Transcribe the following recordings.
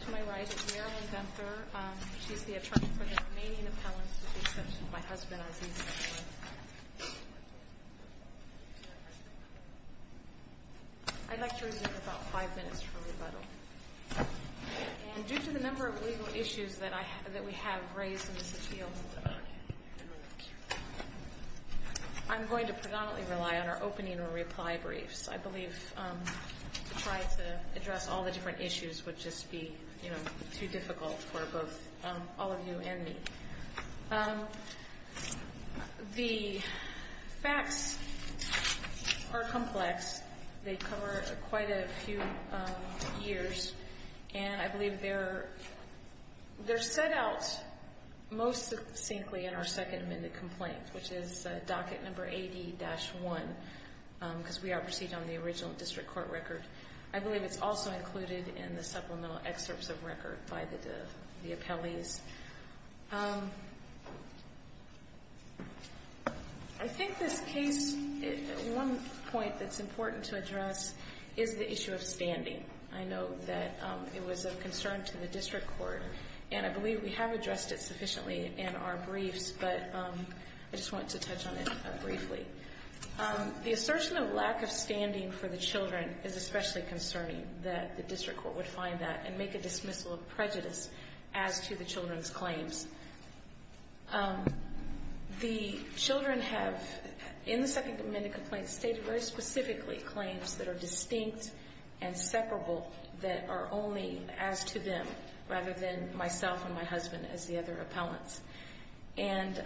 To my right is Marilyn Venter. She's the attorney for the remaining appellants, with the exception of my husband, Aziz Venter. I'd like to remove about five minutes for rebuttal. And due to the number of legal issues that we have raised in this appeal, I'm going to predominantly rely on our opening and reply briefs. I believe to try to address all the different issues would just be too difficult for both all of you and me. The facts are complex. They cover quite a few years. And I believe they're set out most succinctly in our second amended complaint, which is docket number 80-1, because we are proceeding on the original district court record. I believe it's also included in the supplemental excerpts of record by the appellees. I think this case, one point that's important to address is the issue of standing. I know that it was of concern to the district court, and I believe we have addressed it sufficiently in our briefs. But I just wanted to touch on it briefly. The assertion of lack of standing for the children is especially concerning, that the district court would find that and make a dismissal of prejudice as to the children's claims. The children have, in the second amended complaint, stated very specifically claims that are distinct and separable, that are only as to them, rather than myself and my husband as the other appellants. And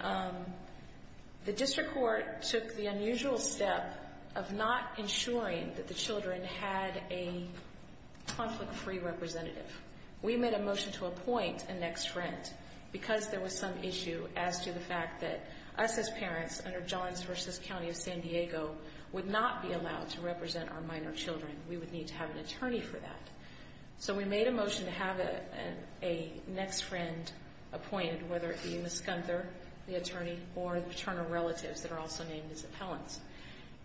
the district court took the unusual step of not ensuring that the children had a conflict-free representative. We made a motion to appoint a next friend, because there was some issue as to the fact that us as parents, under Johns v. County of San Diego, would not be allowed to represent our minor children. We would need to have an attorney for that. So we made a motion to have a next friend appointed, whether it be Ms. Gunther, the attorney, or the paternal relatives that are also named as appellants.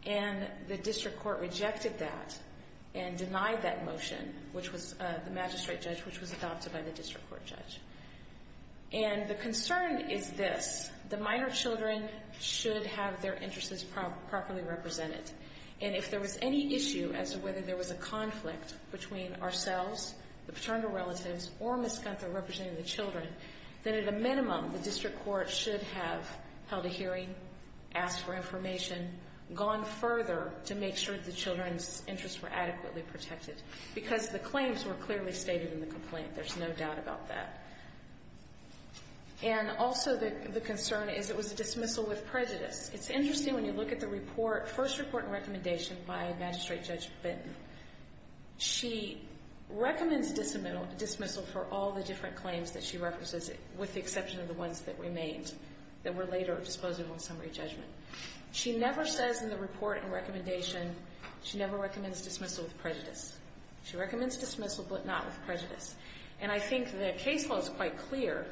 And the district court rejected that and denied that motion, which was the magistrate judge, which was adopted by the district court judge. And the concern is this. The minor children should have their interests properly represented. And if there was any issue as to whether there was a conflict between ourselves, the paternal relatives, or Ms. Gunther representing the children, then at a minimum, the district court should have held a hearing, asked for information, gone further to make sure the children's interests were adequately protected, because the claims were clearly stated in the complaint. There's no doubt about that. And also the concern is it was a dismissal with prejudice. It's interesting when you look at the report, first report and recommendation by Magistrate Judge Benton. She recommends dismissal for all the different claims that she references, with the exception of the ones that remained, that were later disposed of on summary judgment. She never says in the report and recommendation, she never recommends dismissal with prejudice. She recommends dismissal, but not with prejudice. And I think the case law is quite clear.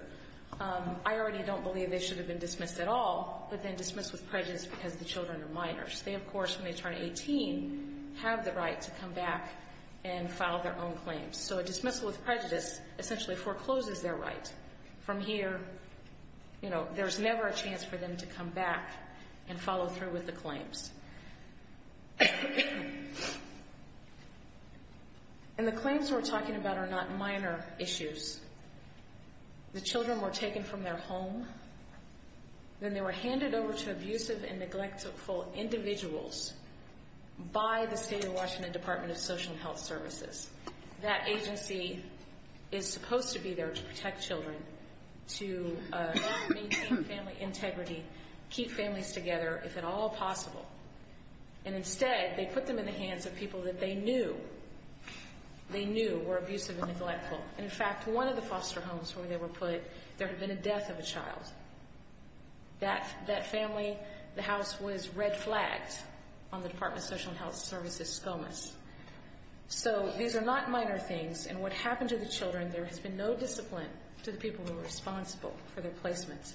I already don't believe they should have been dismissed at all, but then dismissed with prejudice because the children are minors. They, of course, when they turn 18, have the right to come back and file their own claims. So a dismissal with prejudice essentially forecloses their right. From here, you know, there's never a chance for them to come back and follow through with the claims. And the claims we're talking about are not minor issues. The children were taken from their home. Then they were handed over to abusive and neglectful individuals by the State of Washington Department of Social Health Services. That agency is supposed to be there to protect children, to maintain family integrity, keep families together, if at all possible. And instead, they put them in the hands of people that they knew, they knew were abusive and neglectful. And, in fact, one of the foster homes where they were put, there had been a death of a child. That family, the house was red-flagged on the Department of Social and Health Services' SCOMAS. So these are not minor things, and what happened to the children, there has been no discipline to the people who were responsible for their placements.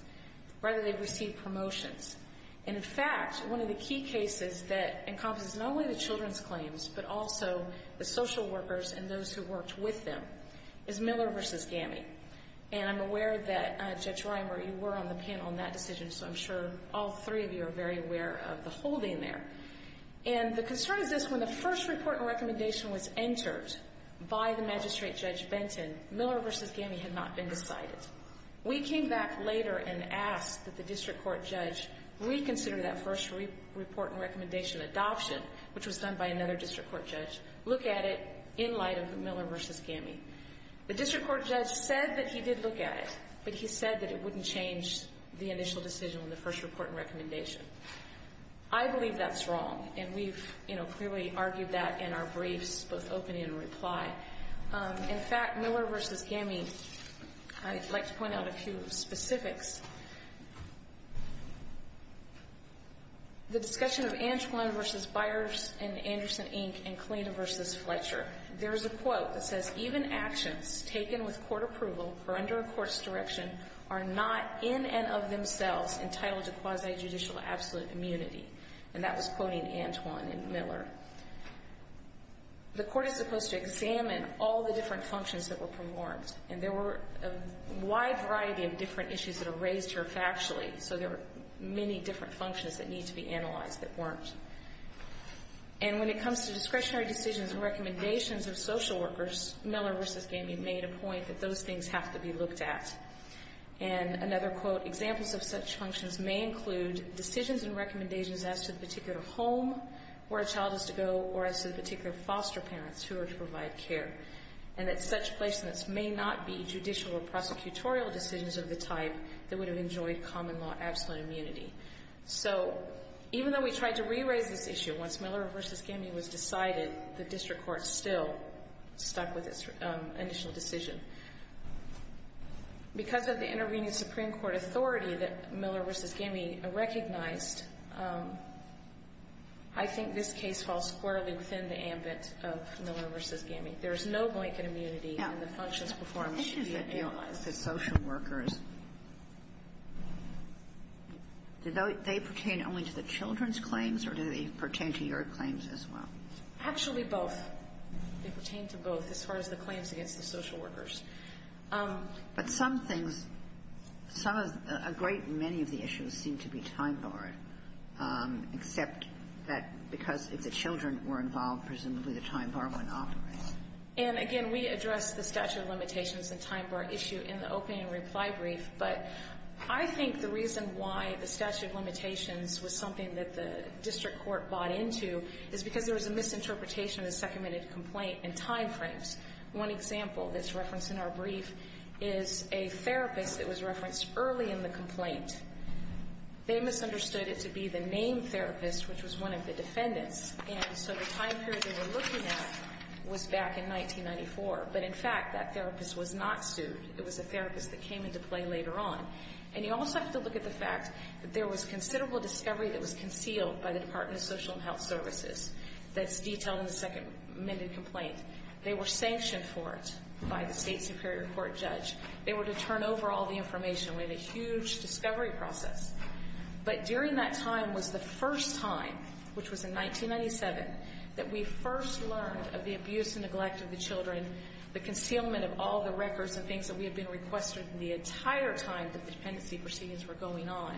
Rather, they've received promotions. And, in fact, one of the key cases that encompasses not only the children's claims, but also the social workers and those who worked with them, is Miller v. Gammie. And I'm aware that, Judge Reimer, you were on the panel on that decision, so I'm sure all three of you are very aware of the holding there. And the concern is this. When the first report and recommendation was entered by the magistrate, Judge Benton, Miller v. Gammie had not been decided. We came back later and asked that the district court judge reconsider that first report and recommendation adoption, which was done by another district court judge, look at it in light of Miller v. Gammie. The district court judge said that he did look at it, but he said that it wouldn't change the initial decision on the first report and recommendation. I believe that's wrong, and we've clearly argued that in our briefs, both opening and reply. In fact, Miller v. Gammie, I'd like to point out a few specifics. The discussion of Antwon v. Byers and Anderson, Inc. and Klena v. Fletcher. There is a quote that says, Even actions taken with court approval or under a court's direction are not in and of themselves entitled to quasi-judicial absolute immunity. And that was quoting Antwon and Miller. The court is supposed to examine all the different functions that were performed, and there were a wide variety of different issues that were raised here factually, so there were many different functions that need to be analyzed that weren't. And when it comes to discretionary decisions and recommendations of social workers, Miller v. Gammie made a point that those things have to be looked at. And another quote, Examples of such functions may include decisions and recommendations as to the particular home where a child is to go or as to the particular foster parents who are to provide care. And that such placements may not be judicial or prosecutorial decisions of the type that would have enjoyed common law absolute immunity. So even though we tried to re-raise this issue, once Miller v. Gammie was decided, the district court still stuck with its initial decision. Because of the intervening Supreme Court authority that Miller v. Gammie recognized, I think this case falls squarely within the ambit of Miller v. Gammie. There is no blanket immunity, and the functions performed should be analyzed. I think it's a deal with the social workers. Do they pertain only to the children's claims, or do they pertain to your claims as well? Actually, both. They pertain to both as far as the claims against the social workers. But some things, some of the great many of the issues seem to be time-barred, except that because if the children were involved, presumably the time bar went off. And again, we addressed the statute of limitations and time bar issue in the opening reply brief, but I think the reason why the statute of limitations was something that the district court bought into is because there was a misinterpretation of the second minute complaint and time frames. One example that's referenced in our brief is a therapist that was referenced early in the complaint. They misunderstood it to be the named therapist, which was one of the defendants. And so the time period they were looking at was back in 1994. But in fact, that therapist was not sued. It was a therapist that came into play later on. And you also have to look at the fact that there was considerable discovery that was concealed by the Department of Social and Health Services that's detailed in the second minute complaint. They were sanctioned for it by the state superior court judge. They were to turn over all the information. We had a huge discovery process. But during that time was the first time, which was in 1997, that we first learned of the abuse and neglect of the children, the concealment of all the records and things that we had been requested the entire time that the dependency proceedings were going on.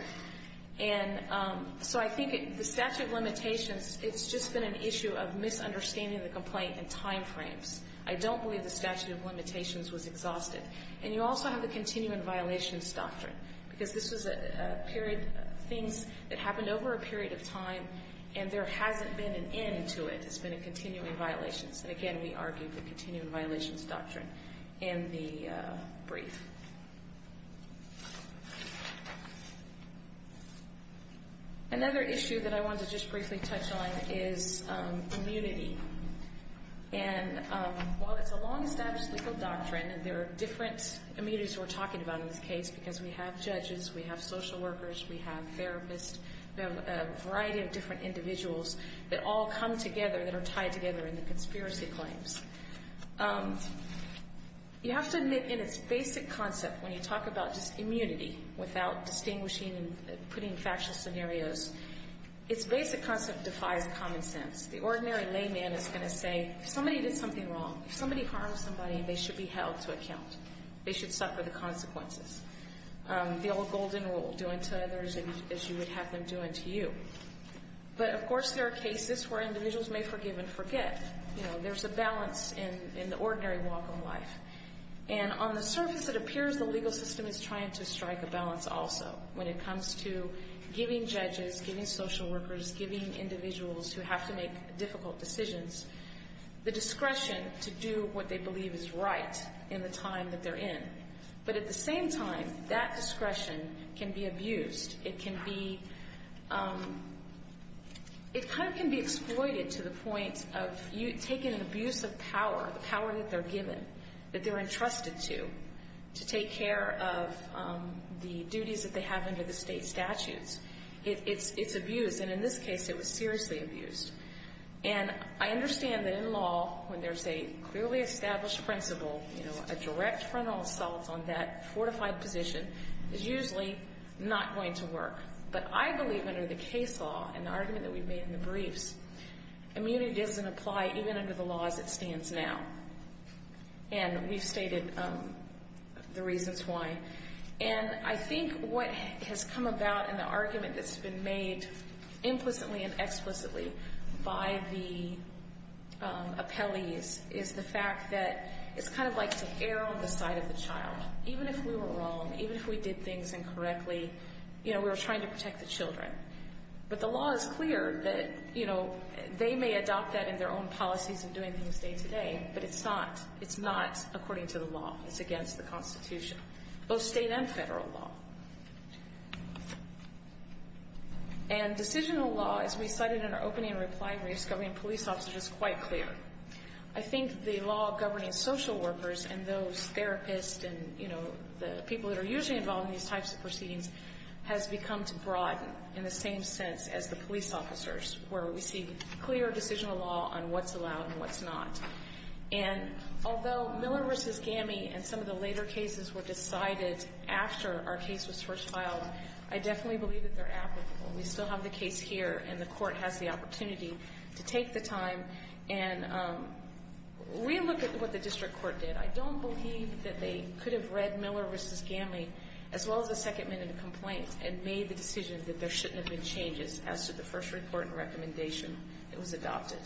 And so I think the statute of limitations, it's just been an issue of misunderstanding the complaint and time frames. I don't believe the statute of limitations was exhausted. And you also have the continuing violations doctrine, because this was a period of things that happened over a period of time, and there hasn't been an end to it. It's been a continuing violations. And again, we argued the continuing violations doctrine in the brief. Another issue that I wanted to just briefly touch on is immunity. And while it's a long-established legal doctrine, and there are different immunities we're talking about in this case because we have judges, we have social workers, we have therapists, we have a variety of different individuals that all come together that are tied together in the conspiracy claims. You have to admit in its basic concept, when you talk about just immunity without distinguishing and putting factual scenarios, its basic concept defies common sense. The ordinary layman is going to say, if somebody did something wrong, if somebody harmed somebody, they should be held to account. They should suffer the consequences. The old golden rule, do unto others as you would have them do unto you. But, of course, there are cases where individuals may forgive and forget. There's a balance in the ordinary walk of life. And on the surface, it appears the legal system is trying to strike a balance also when it comes to giving judges, giving social workers, giving individuals who have to make difficult decisions, the discretion to do what they believe is right in the time that they're in. But at the same time, that discretion can be abused. It can be exploited to the point of taking an abuse of power, the power that they're given, that they're entrusted to, to take care of the duties that they have under the state statutes. It's abuse, and in this case, it was seriously abused. And I understand that in law, when there's a clearly established principle, a direct frontal assault on that fortified position is usually not going to work. But I believe under the case law, and the argument that we've made in the briefs, immunity doesn't apply even under the law as it stands now. And we've stated the reasons why. And I think what has come about in the argument that's been made implicitly and explicitly by the appellees is the fact that it's kind of like to err on the side of the child. Even if we were wrong, even if we did things incorrectly, you know, we were trying to protect the children. But the law is clear that, you know, they may adopt that in their own policies and doing things day to day, but it's not according to the law. It's against the Constitution, both state and federal law. And decisional law, as we cited in our opening reply briefs covering police officers, is quite clear. I think the law governing social workers and those therapists and, you know, the people that are usually involved in these types of proceedings has become to broaden in the same sense as the police officers, where we see clear decisional law on what's allowed and what's not. And although Miller v. Gamme and some of the later cases were decided after our case was first filed, I definitely believe that they're applicable. We still have the case here, and the Court has the opportunity to take the time and relook at what the district court did. I don't believe that they could have read Miller v. Gamme, as well as the second minute complaint, and made the decision that there shouldn't have been changes as to the first report and recommendation that was adopted.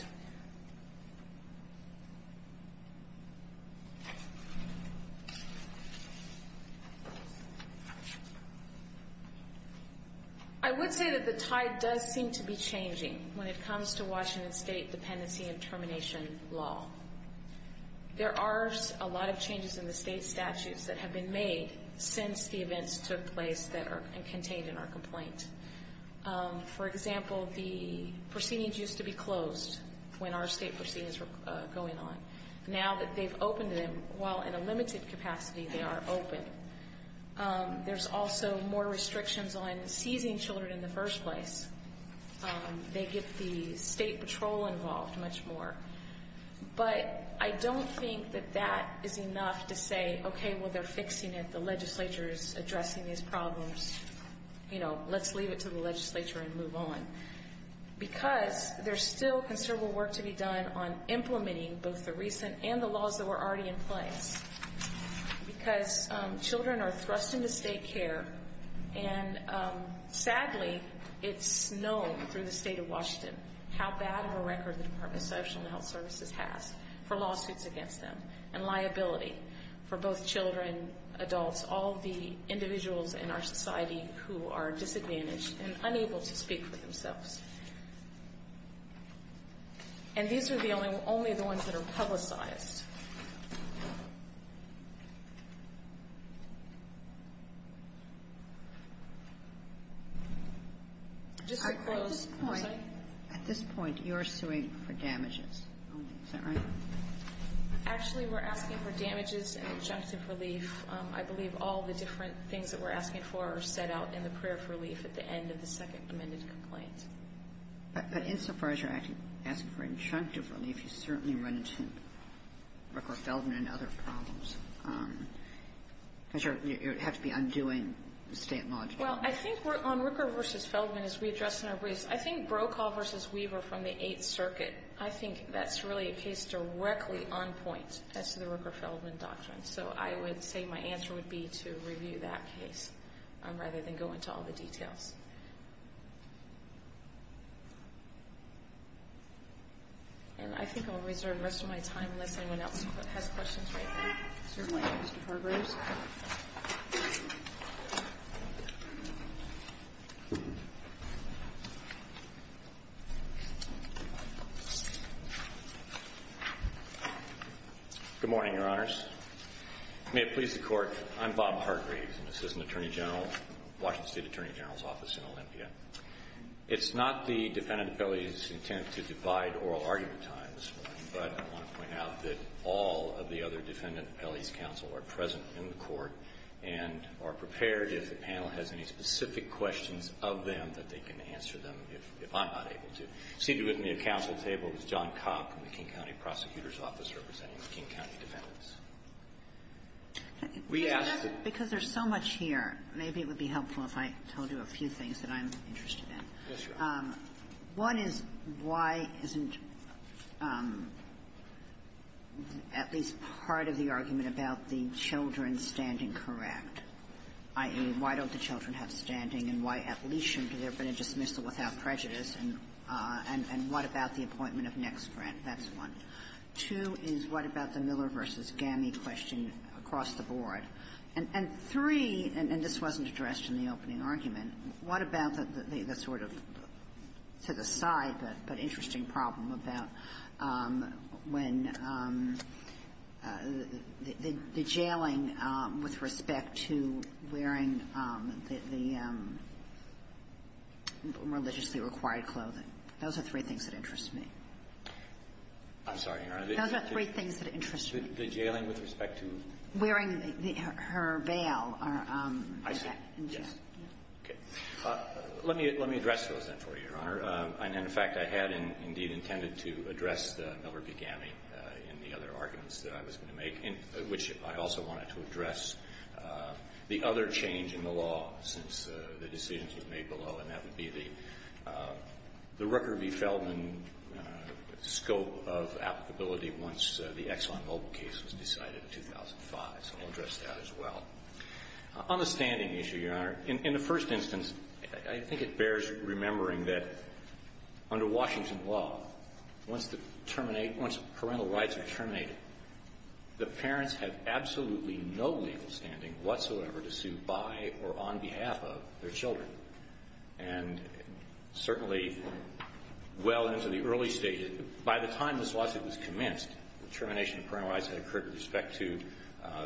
I would say that the tide does seem to be changing when it comes to Washington State dependency and termination law. There are a lot of changes in the state statutes that have been made since the events took place that are contained in our complaint. For example, the proceedings used to be closed when our state proceedings were going on. Now that they've opened them, while in a limited capacity, they are open. There's also more restrictions on seizing children in the first place. They get the state patrol involved much more. But I don't think that that is enough to say, okay, well, they're fixing it. The legislature is addressing these problems. You know, let's leave it to the legislature and move on. Because there's still considerable work to be done on implementing both the recent and the laws that were already in place. Because children are thrust into state care, and sadly, it's known through the state of Washington how bad of a record the Department of Social and Health Services has for lawsuits against them. And liability for both children, adults, all the individuals in our society who are disadvantaged and unable to speak for themselves. And these are the only ones that are publicized. Just to close. I'm sorry? At this point, you're suing for damages only, is that right? Actually, we're asking for damages and objective relief. I believe all the different things that we're asking for are set out in the prayer of relief at the end of the second amended complaint. But insofar as you're asking for objective relief, you certainly run into Ricker-Feldman and other problems. Because you have to be undoing the state law. Well, I think on Ricker v. Feldman, as we address in our briefs, I think Brokaw v. Weaver from the Eighth Circuit, I think that's really a case directly on point as to the Ricker-Feldman doctrine. So I would say my answer would be to review that case rather than go into all the details. And I think I'll reserve the rest of my time unless anyone else has questions right now. Certainly, Mr. Farber. Thank you, Your Honors. Good morning, Your Honors. May it please the Court. I'm Bob Hargreaves. I'm Assistant Attorney General, Washington State Attorney General's Office in Olympia. It's not the defendant appellee's intent to divide oral argument time this morning, but I want to point out that all of the other defendant appellee's counsel are present in the Court and are prepared, if the panel has any specific questions of them, that they can answer them if I'm not able to. Seated with me at counsel's table is John Kopp from the King County Prosecutor's Office representing the King County defendants. We asked that you. Because there's so much here, maybe it would be helpful if I told you a few things that I'm interested in. Yes, Your Honor. One is, why isn't at least part of the argument about the children standing correct, i.e., why don't the children have standing and why at least should they be able to dismiss it without prejudice, and what about the appointment of next grant? That's one. Two is, what about the Miller v. Gami question across the board? And three, and this wasn't addressed in the opening argument, what about the sort of to the side but interesting problem about when the jailing with respect to wearing the religiously required clothing? Those are three things that interest me. I'm sorry, Your Honor. Those are three things that interest me. The jailing with respect to? Wearing her veil. I see. Yes. Okay. Let me address those then for you, Your Honor. And in fact, I had indeed intended to address the Miller v. Gami in the other arguments that I was going to make, in which I also wanted to address the other change in the law since the decisions were made below, and that would be the Rooker v. Feldman scope of applicability once the Exxon Mobil case was decided in 2005. So I'll address that as well. On the standing issue, Your Honor, in the first instance, I think it bears remembering that under Washington law, once the terminate, once parental rights are terminated, the parents have absolutely no legal standing whatsoever to sue by or on behalf of their children. And certainly, well into the early stages, by the time this lawsuit was commenced, the termination of parental rights had occurred with respect to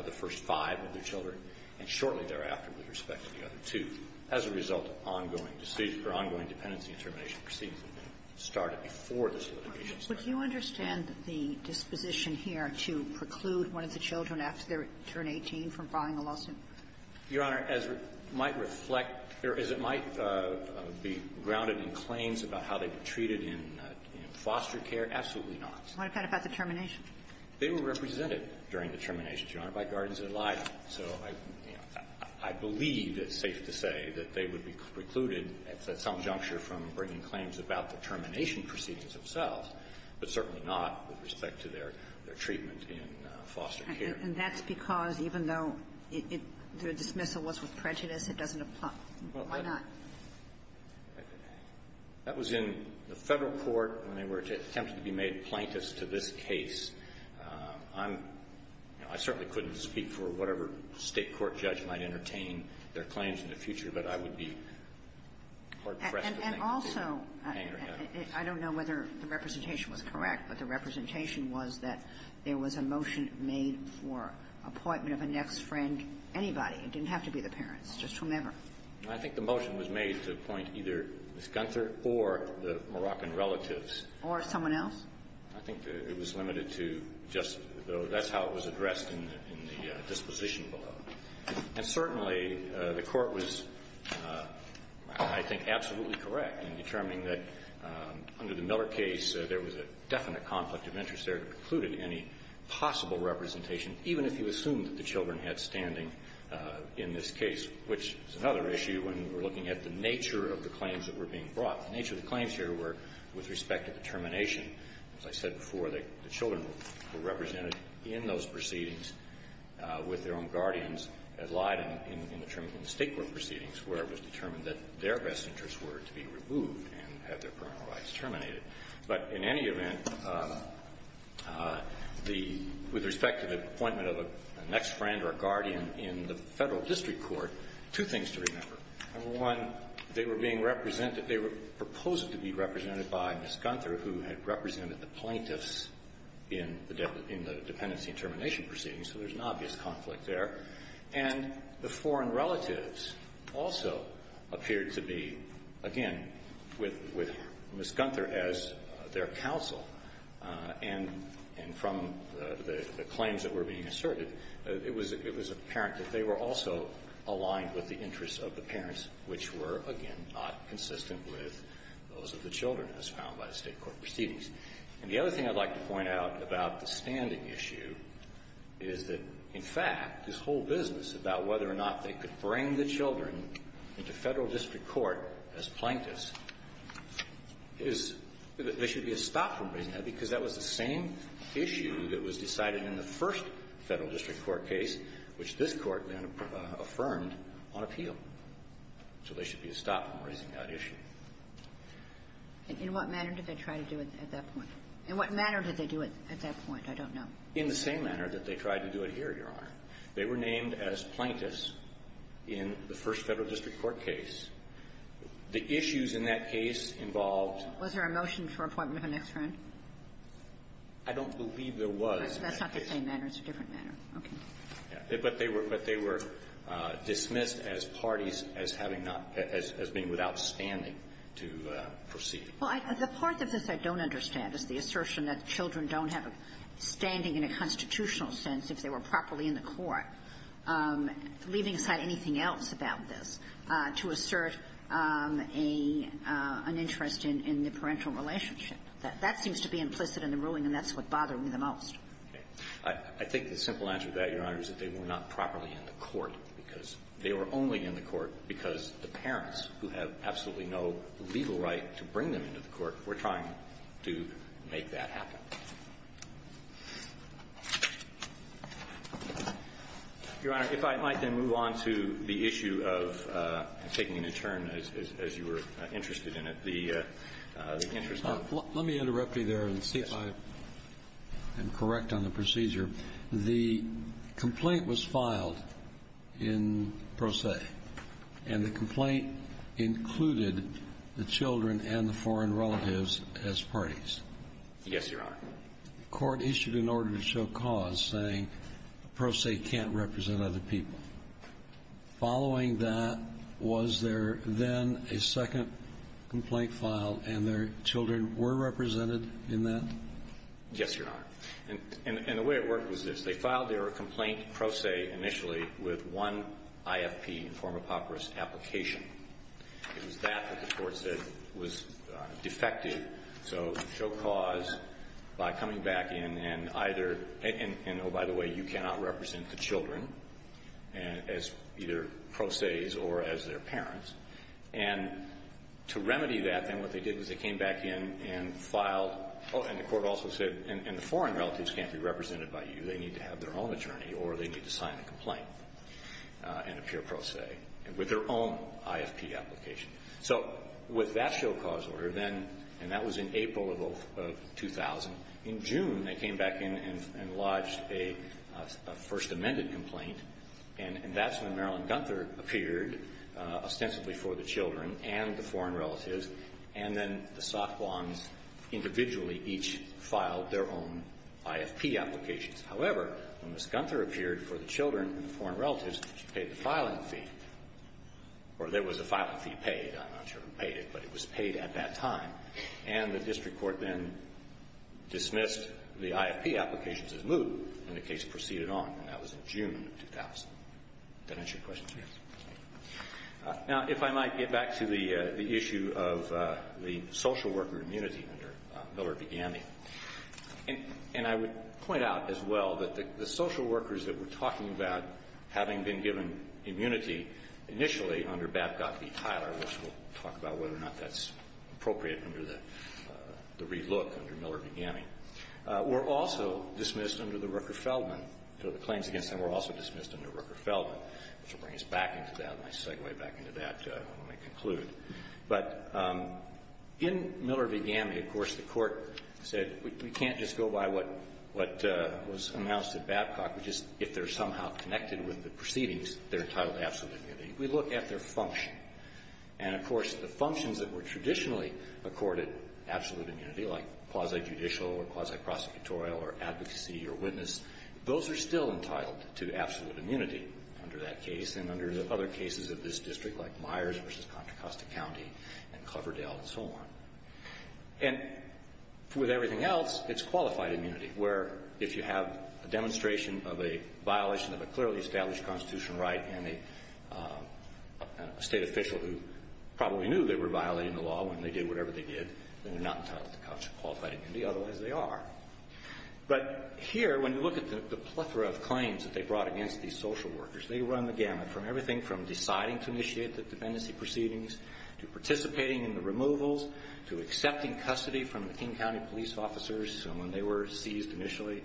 the first five of the children, and shortly thereafter with respect to the other two. As a result, ongoing dependency and termination proceedings started before this litigation started. Would you understand the disposition here to preclude one of the children after they turn 18 from filing a lawsuit? Your Honor, as it might reflect or as it might be grounded in claims about how they were treated in foster care, absolutely not. What about the termination? They were represented during the termination, Your Honor, by Gardens and Elijah. So, you know, I believe it's safe to say that they would be precluded at some juncture from bringing claims about the termination proceedings themselves, but certainly not with respect to their treatment in foster care. And that's because even though it the dismissal was with prejudice, it doesn't apply. Why not? That was in the Federal court when they were attempting to be made plaintiffs to this case. I'm you know, I certainly couldn't speak for whatever State court judge might entertain their claims in the future, but I would be hard-pressed to make a case. And also, I don't know whether the representation was correct, but the representation was that there was a motion made for appointment of a next friend, anybody. It didn't have to be the parents, just whomever. I think the motion was made to appoint either Ms. Gunther or the Moroccan relatives. Or someone else? I think it was limited to just the other. That's how it was addressed in the disposition below. And certainly, the Court was, I think, absolutely correct in determining that under the Miller case, there was a definite conflict of interest there that included any possible representation, even if you assumed that the children had standing in this case, which is another issue when we're looking at the nature of the claims that were being brought. The nature of the claims here were with respect to the termination. As I said before, the children were represented in those proceedings with their own guardians at Leiden in the State court proceedings, where it was determined that their best interests were to be removed and had their parental rights terminated. But in any event, the – with respect to the appointment of a next friend or a guardian in the Federal District Court, two things to remember. Number one, they were being represented – they were proposed to be represented by Ms. Gunther, who had represented the plaintiffs in the dependency and termination proceedings, so there's an obvious conflict there. And the foreign relatives also appeared to be, again, with Ms. Gunther as their counsel. And from the claims that were being asserted, it was – it was apparent that they were also aligned with the interests of the parents, which were, again, not consistent with those of the children as found by the State court proceedings. And the other thing I'd like to point out about the standing issue is that, in fact, this whole business about whether or not they could bring the children into Federal District Court as plaintiffs is – there should be a stop in raising that, because that was the same issue that was decided in the first Federal District Court case, which this Court then affirmed on appeal. So there should be a stop in raising that issue. And in what manner did they try to do it at that point? In what manner did they do it at that point? I don't know. In the same manner that they tried to do it here, Your Honor. They were named as plaintiffs in the first Federal District Court case. The issues in that case involved – Was there a motion for appointment of an ex-friend? I don't believe there was. That's not the same manner. It's a different manner. Okay. But they were – but they were dismissed as parties as having not – as being without standing to proceed. Well, the part of this I don't understand is the assertion that children don't have a standing in a constitutional sense if they were properly in the court. Leaving aside anything else about this, to assert a – an interest in the parental relationship. That seems to be implicit in the ruling, and that's what bothered me the most. I think the simple answer to that, Your Honor, is that they were not properly in the court, because they were only in the court because the parents, who have absolutely no legal right to bring them into the court, were trying to make that happen. Your Honor, if I might then move on to the issue of – I'm taking a new turn, as you were interested in it – the interest of – Let me interrupt you there and see if I am correct on the procedure. The complaint was filed in pro se, and the complaint included the children and the foreign relatives as parties. Yes, Your Honor. The court issued an order to show cause, saying the pro se can't represent other people. Following that, was there then a second complaint filed, and their children were represented in that? Yes, Your Honor. And the way it worked was this. They filed their complaint pro se initially with one IFP, form of papyrus application. It was that that the court said was defective. So show cause by coming back in and either – and, oh, by the way, you cannot represent the children as either pro ses or as their parents. And to remedy that, then what they did was they came back in and filed – and the court also said, and the foreign relatives can't be represented by you. They need to have their own attorney, or they need to sign a complaint in a pure pro se. And with their own IFP application. So with that show cause order, then – and that was in April of 2000. In June, they came back in and lodged a First Amendment complaint, and that's when Marilyn Gunther appeared, ostensibly for the children and the foreign relatives. And then the Sakhwans individually each filed their own IFP applications. However, when Ms. Gunther appeared for the children and the foreign relatives, she paid the filing fee. Or there was a filing fee paid. I'm not sure who paid it, but it was paid at that time. And the district court then dismissed the IFP applications as moot, and the case proceeded on. And that was in June of 2000. Does that answer your question? Yes. Now, if I might get back to the issue of the social worker immunity under Miller Begani, and I would point out as well that the social workers that we're talking about, having been given immunity initially under Babcock v. Tyler, which we'll talk about whether or not that's appropriate under the relook under Miller Begani, were also dismissed under the Rooker-Feldman. So the claims against them were also dismissed under Rooker-Feldman, which will bring us back into that. I'll segue back into that when I conclude. But in Miller Begani, of course, the Court said we can't just go by what was announced at Babcock. We just, if they're somehow connected with the proceedings, they're entitled to absolute immunity. We look at their function. And, of course, the functions that were traditionally accorded absolute immunity, like quasi-judicial or quasi-prosecutorial or advocacy or witness, those are still entitled to absolute immunity under that case and under the other cases of this district, like Myers v. Contra Costa County and Cloverdale and so on. And with everything else, it's qualified immunity, where if you have a demonstration of a violation of a clearly established constitutional right and a State official who probably knew they were violating the law when they did whatever they did, then they're not entitled to qualified immunity. Otherwise, they are. But here, when you look at the plethora of claims that they brought against these social workers, they run the gamut from everything from deciding to initiate the proceedings, accepting custody from the King County police officers when they were seized initially,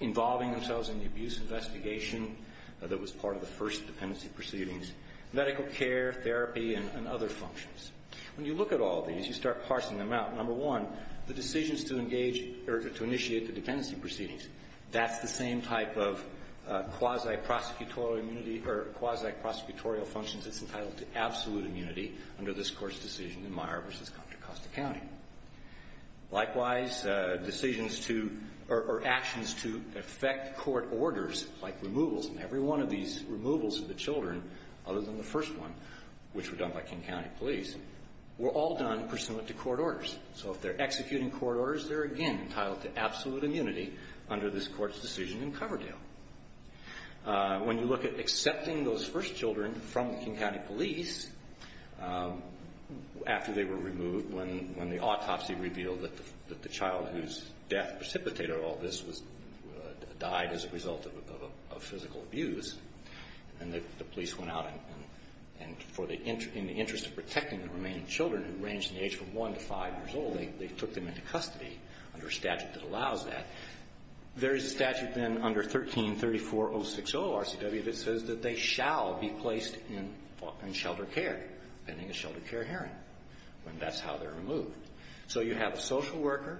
involving themselves in the abuse investigation that was part of the first dependency proceedings, medical care, therapy, and other functions. When you look at all these, you start parsing them out. Number one, the decisions to engage or to initiate the dependency proceedings, that's the same type of quasi-prosecutorial immunity or quasi-prosecutorial functions. It's entitled to absolute immunity under this Court's decision in Meyer v. Contra Costa County. Likewise, decisions to, or actions to effect court orders, like removals, and every one of these removals of the children, other than the first one, which were done by King County police, were all done pursuant to court orders. So if they're executing court orders, they're again entitled to absolute immunity under this Court's decision in Coverdale. When you look at accepting those first children from the King County police, after they were removed, when the autopsy revealed that the child whose death precipitated all this died as a result of physical abuse, and the police went out and in the interest of protecting the remaining children, who ranged in age from one to five years old, they took them into custody under a statute that allows that, there is a statute then under 1334060 of RCW that says that they shall be placed in shelter care, pending a shelter care hearing, when that's how they're removed. So you have a social worker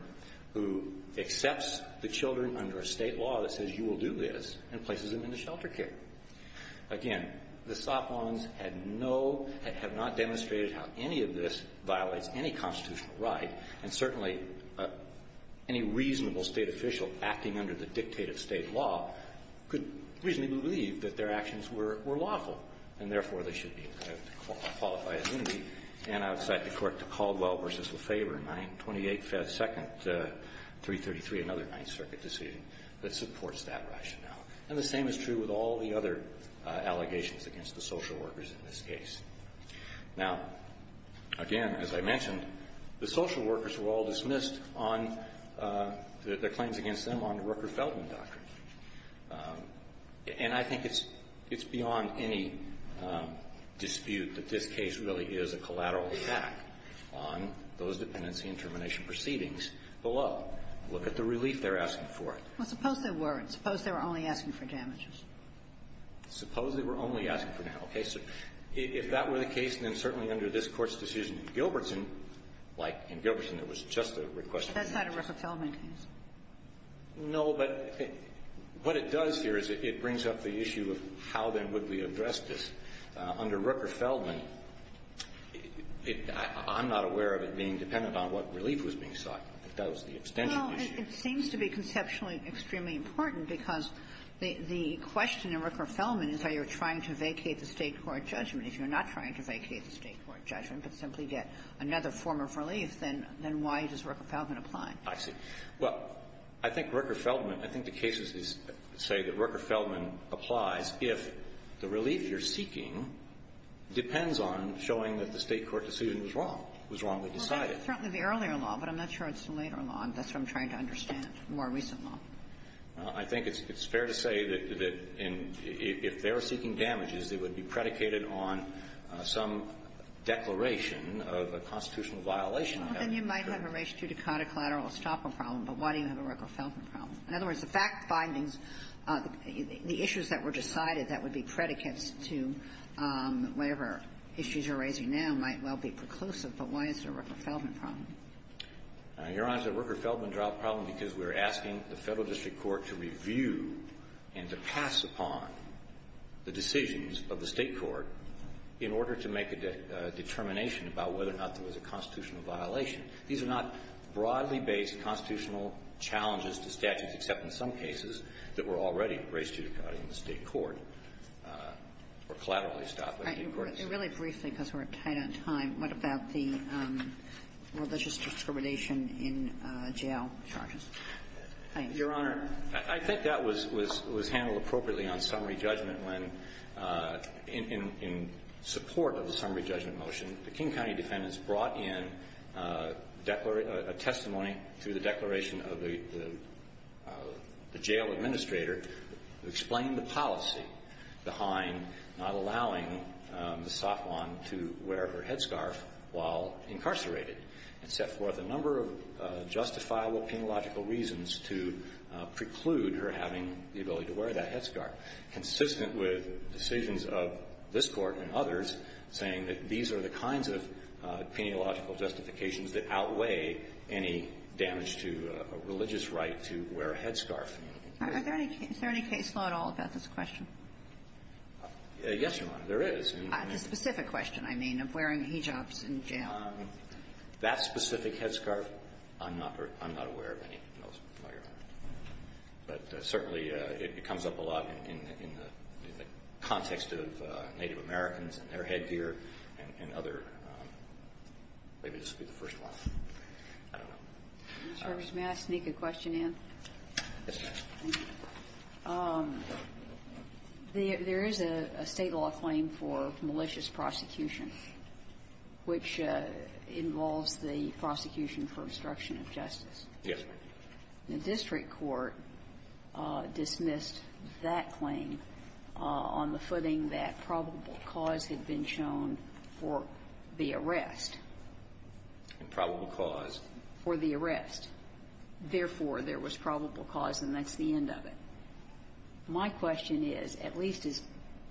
who accepts the children under a State law that says you will do this and places them into shelter care. Again, the SOPLONs had no, have not demonstrated how any of this violates any under the dictated State law, could reasonably believe that their actions were lawful and, therefore, they should be entitled to qualified immunity. And I would cite the court to Caldwell v. Lefebvre, 928 2nd, 333, another Ninth Circuit decision, that supports that rationale. And the same is true with all the other allegations against the social workers in this case. Now, again, as I mentioned, the social workers were all dismissed on the basis that their claims against them are under Rooker-Feldman doctrine. And I think it's beyond any dispute that this case really is a collateral attack on those dependency and termination proceedings below. Look at the relief they're asking for. Well, suppose they weren't. Suppose they were only asking for damages. Suppose they were only asking for damages. Okay. So if that were the case, then certainly under this Court's decision in Gilbertson there was just a request for damages. That's not a Rooker-Feldman case. No, but what it does here is it brings up the issue of how, then, would we address this. Under Rooker-Feldman, I'm not aware of it being dependent on what relief was being sought. That was the extension issue. Well, it seems to be conceptually extremely important because the question in Rooker-Feldman is how you're trying to vacate the State court judgment. If you're not trying to vacate the State court judgment but simply get another form of relief, then why does Rooker-Feldman apply? I see. Well, I think Rooker-Feldman, I think the cases say that Rooker-Feldman applies if the relief you're seeking depends on showing that the State court decision was wrong, was wrongly decided. Well, that's certainly the earlier law, but I'm not sure it's the later law. That's what I'm trying to understand, the more recent law. I think it's fair to say that if they're seeking damages, it would be predicated on some declaration of a constitutional violation. Well, then you might have a race-judicata collateral estoppel problem, but why do you have a Rooker-Feldman problem? In other words, the fact findings, the issues that were decided that would be predicates to whatever issues you're raising now might well be preclusive, but why is there a Rooker-Feldman problem? Your Honor, the Rooker-Feldman trial problem because we're asking the Federal State court in order to make a determination about whether or not there was a constitutional violation. These are not broadly based constitutional challenges to statutes, except in some cases that were already race-judicata in the State court or collateral estoppel in the State courts. Right. And really briefly, because we're tight on time, what about the religious discrimination in jail charges? Your Honor, I think that was handled appropriately on summary judgment when, in support of the summary judgment motion, the King County defendants brought in a testimony to the declaration of the jail administrator who explained the policy behind not allowing Ms. Safwan to wear her headscarf while incarcerated and set forth a number of justifiable penological reasons to preclude her having the ability to wear that headscarf, consistent with decisions of this Court and others saying that these are the kinds of penological justifications that outweigh any damage to a religious right to wear a headscarf. Is there any case law at all about this question? Yes, Your Honor, there is. That specific headscarf, I'm not aware of any, no, Your Honor. But certainly it comes up a lot in the context of Native Americans and their headgear and other, maybe this will be the first one. I don't know. Yes, Your Honor. There is a State law claim for malicious prosecution which involves the prosecution for obstruction of justice. Yes. The district court dismissed that claim on the footing that probable cause had been shown for the arrest. Probable cause. For the arrest. Therefore, there was probable cause, and that's the end of it. My question is, at least as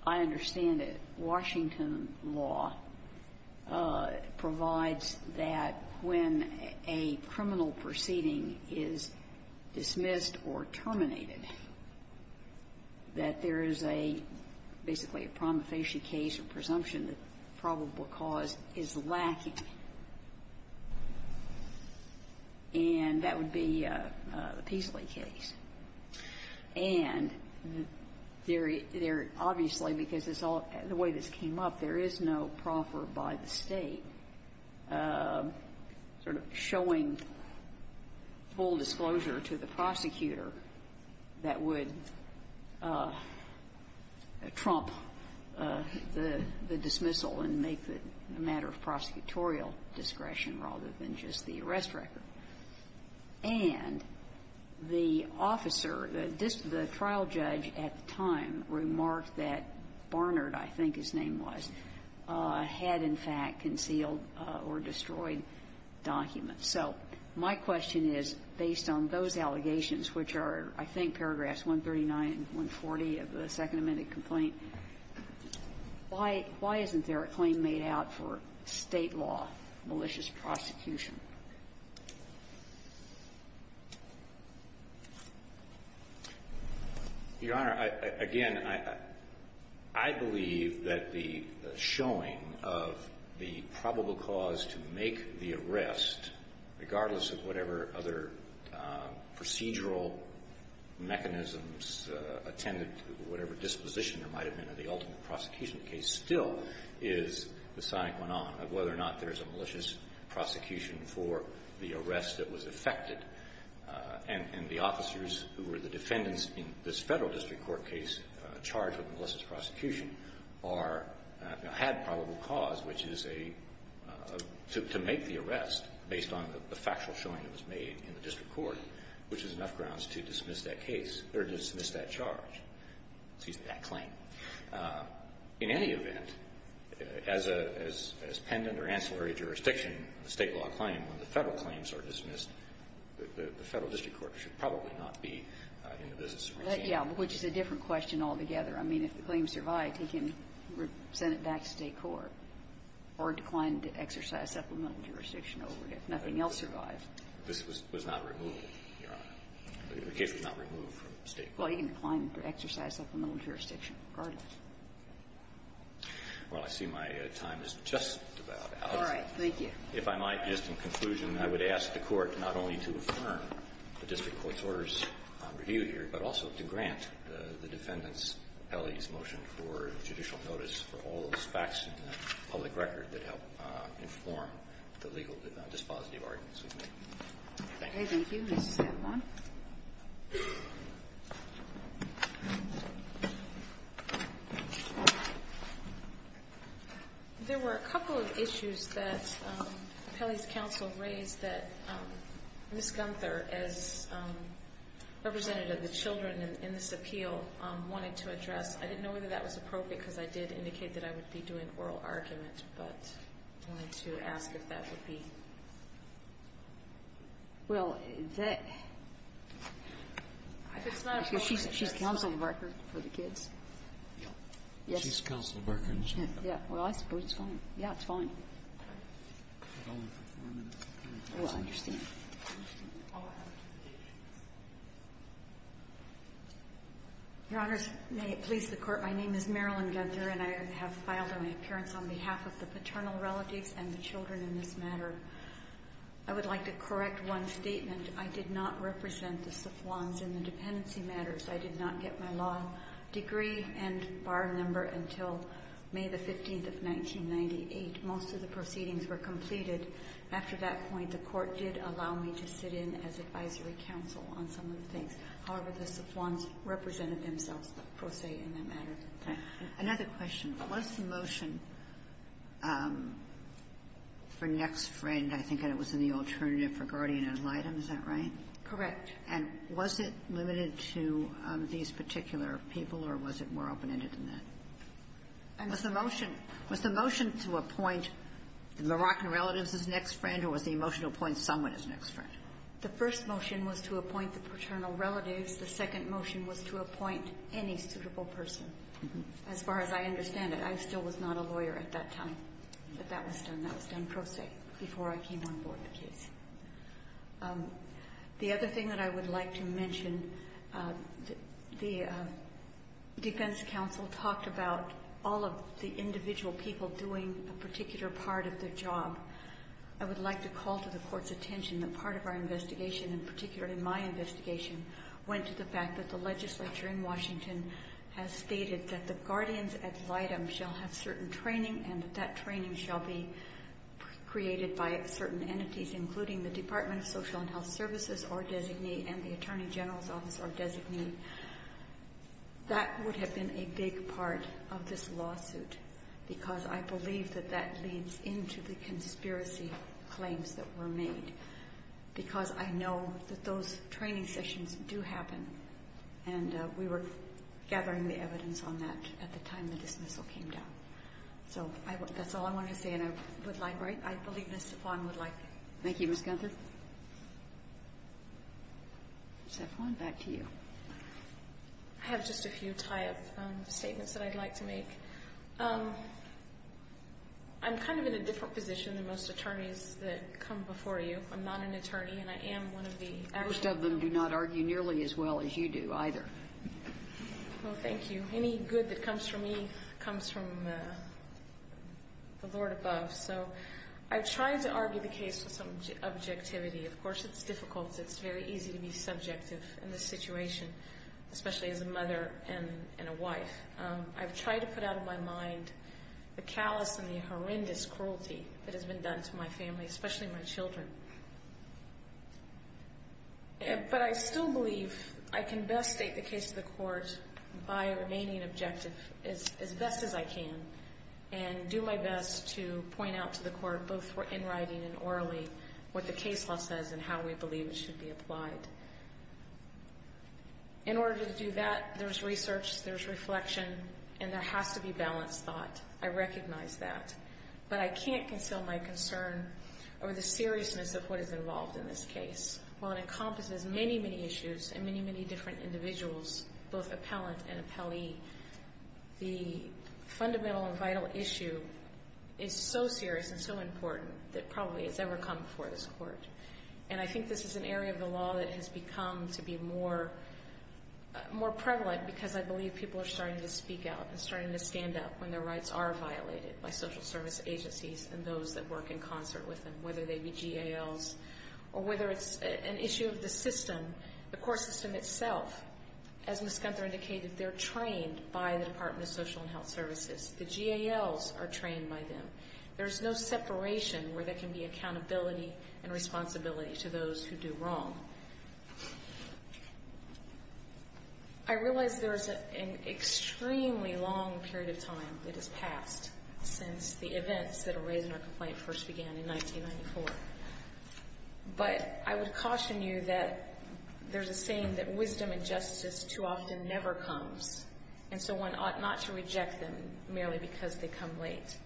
I understand it, Washington law provides that when a criminal proceeding is dismissed or terminated, that there is a, basically a prima facie case or presumption that probable cause is lacking. And that would be the Peasley case. And there, obviously, because it's all, the way this came up, there is no proffer by the State sort of showing full disclosure to the prosecutor that would trump the dismissal and make it a matter of prosecutorial discretion rather than just the arrest record. And the officer, the trial judge at the time remarked that Barnard, I think his name was, had, in fact, concealed or destroyed documents. So my question is, based on those allegations, which are, I think, paragraphs 139 and 140 of the Second Amendment complaint, why isn't there a claim made out for State law, malicious prosecution? Your Honor, again, I believe that the showing of the probable cause to make the arrest, regardless of whatever other procedural mechanisms attended to whatever disposition there might have been in the ultimate prosecution case, still is the sonic one-off of whether or not there is a malicious prosecution for the arrest that was effected. And the officers who were the defendants in this Federal district court case charged with malicious prosecution are, had probable cause, which is a, to make the arrest based on the factual showing that was made in the district court, which is enough grounds to dismiss that case, or dismiss that charge, excuse me, that claim. In any event, as pendant or ancillary jurisdiction in a State law claim, when the Federal claims are dismissed, the Federal district court should probably not be in the business of malicious prosecution. Yeah, which is a different question altogether. I mean, if the claim survived, he can send it back to State court or decline to exercise supplemental jurisdiction over it. If nothing else survived. This was not removed, Your Honor. The case was not removed from State court. Well, he can decline to exercise supplemental jurisdiction regardless. Well, I see my time is just about out. All right. Thank you. If I might, just in conclusion, I would ask the Court not only to affirm the district court's orders on review here, but also to grant the defendant's, Pelley's motion for judicial notice for all those facts in the public record that help inform the legal dispositive arguments we've made. Thank you. Okay. Thank you. Ms. San Juan. There were a couple of issues that Pelley's counsel raised that Ms. Gunther, as representative of the children in this appeal, wanted to address. I didn't know whether that was appropriate, because I did indicate that I would be doing oral argument, but I wanted to ask if that would be. Well, that ‑‑ she's counsel of record for the kids. She's counsel of record. Well, I suppose it's fine. Yeah, it's fine. I will understand. Your Honors, may it please the Court. My name is Marilyn Gunther, and I have filed an appearance on behalf of the paternal relatives and the children in this matter. I would like to correct one statement. I did not represent the Safflons in the dependency matters. I did not get my law degree and bar number until May the 15th of 1998. Most of the proceedings were completed. After that point, the Court did allow me to sit in as advisory counsel on some of the things. However, the Safflons represented themselves, per se, in that matter. Thank you. Another question. Was the motion for next friend, I think it was in the alternative for guardian and litem, is that right? Correct. And was it limited to these particular people, or was it more open-ended than that? Was the motion to appoint the Moroccan relatives as next friend, or was the motion to appoint someone as next friend? The first motion was to appoint the paternal relatives. The second motion was to appoint any suitable person. As far as I understand it, I still was not a lawyer at that time. But that was done. That was done pro se before I came on board with the case. The other thing that I would like to mention, the defense counsel talked about all of the individual people doing a particular part of their job. I would like to call to the Court's attention that part of our investigation, and particularly my investigation, went to the fact that the legislature in Washington has stated that the guardians at litem shall have certain training and that that training shall be created by certain entities, including the Department of Social and Health Services or designee and the Attorney General's Office or designee. That would have been a big part of this lawsuit because I believe that that leads into the conspiracy claims that were made because I know that those training sessions do happen, and we were gathering the evidence on that at the time when the dismissal came down. So that's all I wanted to say, and I believe Ms. Zafon would like it. Thank you, Ms. Gunther. Zafon, back to you. I have just a few tie-up statements that I'd like to make. I'm kind of in a different position than most attorneys that come before you. I'm not an attorney, and I am one of the actual attorneys. Most of them do not argue nearly as well as you do either. Well, thank you. Any good that comes from me comes from the Lord above. So I've tried to argue the case with some objectivity. Of course, it's difficult. It's very easy to be subjective in this situation, especially as a mother and a wife. I've tried to put out of my mind the callous and the horrendous cruelty that has been done to my family, especially my children. But I still believe I can best state the case to the court by remaining objective as best as I can and do my best to point out to the court, both in writing and orally, what the case law says and how we believe it should be applied. In order to do that, there's research, there's reflection, and there has to be balanced thought. I recognize that. But I can't conceal my concern over the seriousness of what is involved in this case. While it encompasses many, many issues and many, many different individuals, both appellant and appellee, the fundamental and vital issue is so serious and so important that probably it's ever come before this court. And I think this is an area of the law that has become to be more prevalent because I believe people are starting to speak out and starting to stand up when their rights are violated by social service agencies and those that work in concert with them, whether they be GALs or whether it's an issue of the system, the court system itself. As Ms. Gunther indicated, they're trained by the Department of Social and Health Services. The GALs are trained by them. There's no separation where there can be accountability and responsibility to those who do wrong. I realize there's an extremely long period of time that has passed since the events that are raised in our complaint first began in 1994. But I would caution you that there's a saying that wisdom and justice too often never comes, and so one ought not to reject them merely because they come late.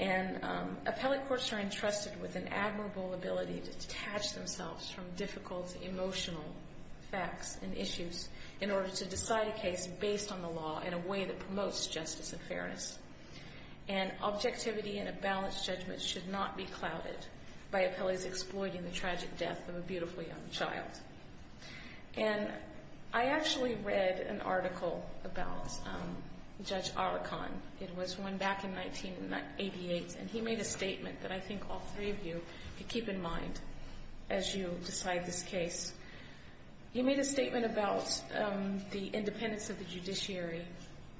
And appellate courts are entrusted with an admirable ability to detach themselves from difficult emotional facts and issues in order to decide a case based on the law in a way that promotes justice and fairness. And objectivity and a balanced judgment should not be clouded by appellees exploiting the tragic death of a beautiful young child. And I actually read an article about Judge Arakan. It was one back in 1988, and he made a statement that I think all three of you could keep in mind as you decide this case. He made a statement about the independence of the judiciary,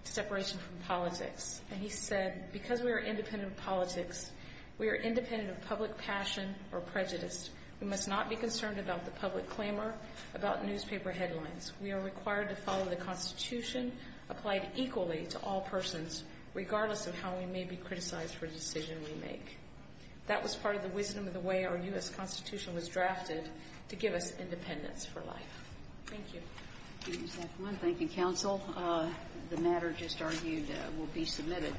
separation from politics, and he said, because we are independent of politics, we are independent of public passion or prejudice. We must not be concerned about the public claimer, about newspaper headlines. We are required to follow the Constitution applied equally to all persons, regardless of how we may be criticized for a decision we make. That was part of the wisdom of the way our U.S. Constitution was drafted to give us independence for life. Thank you. Thank you, counsel. The matter just argued will be submitted.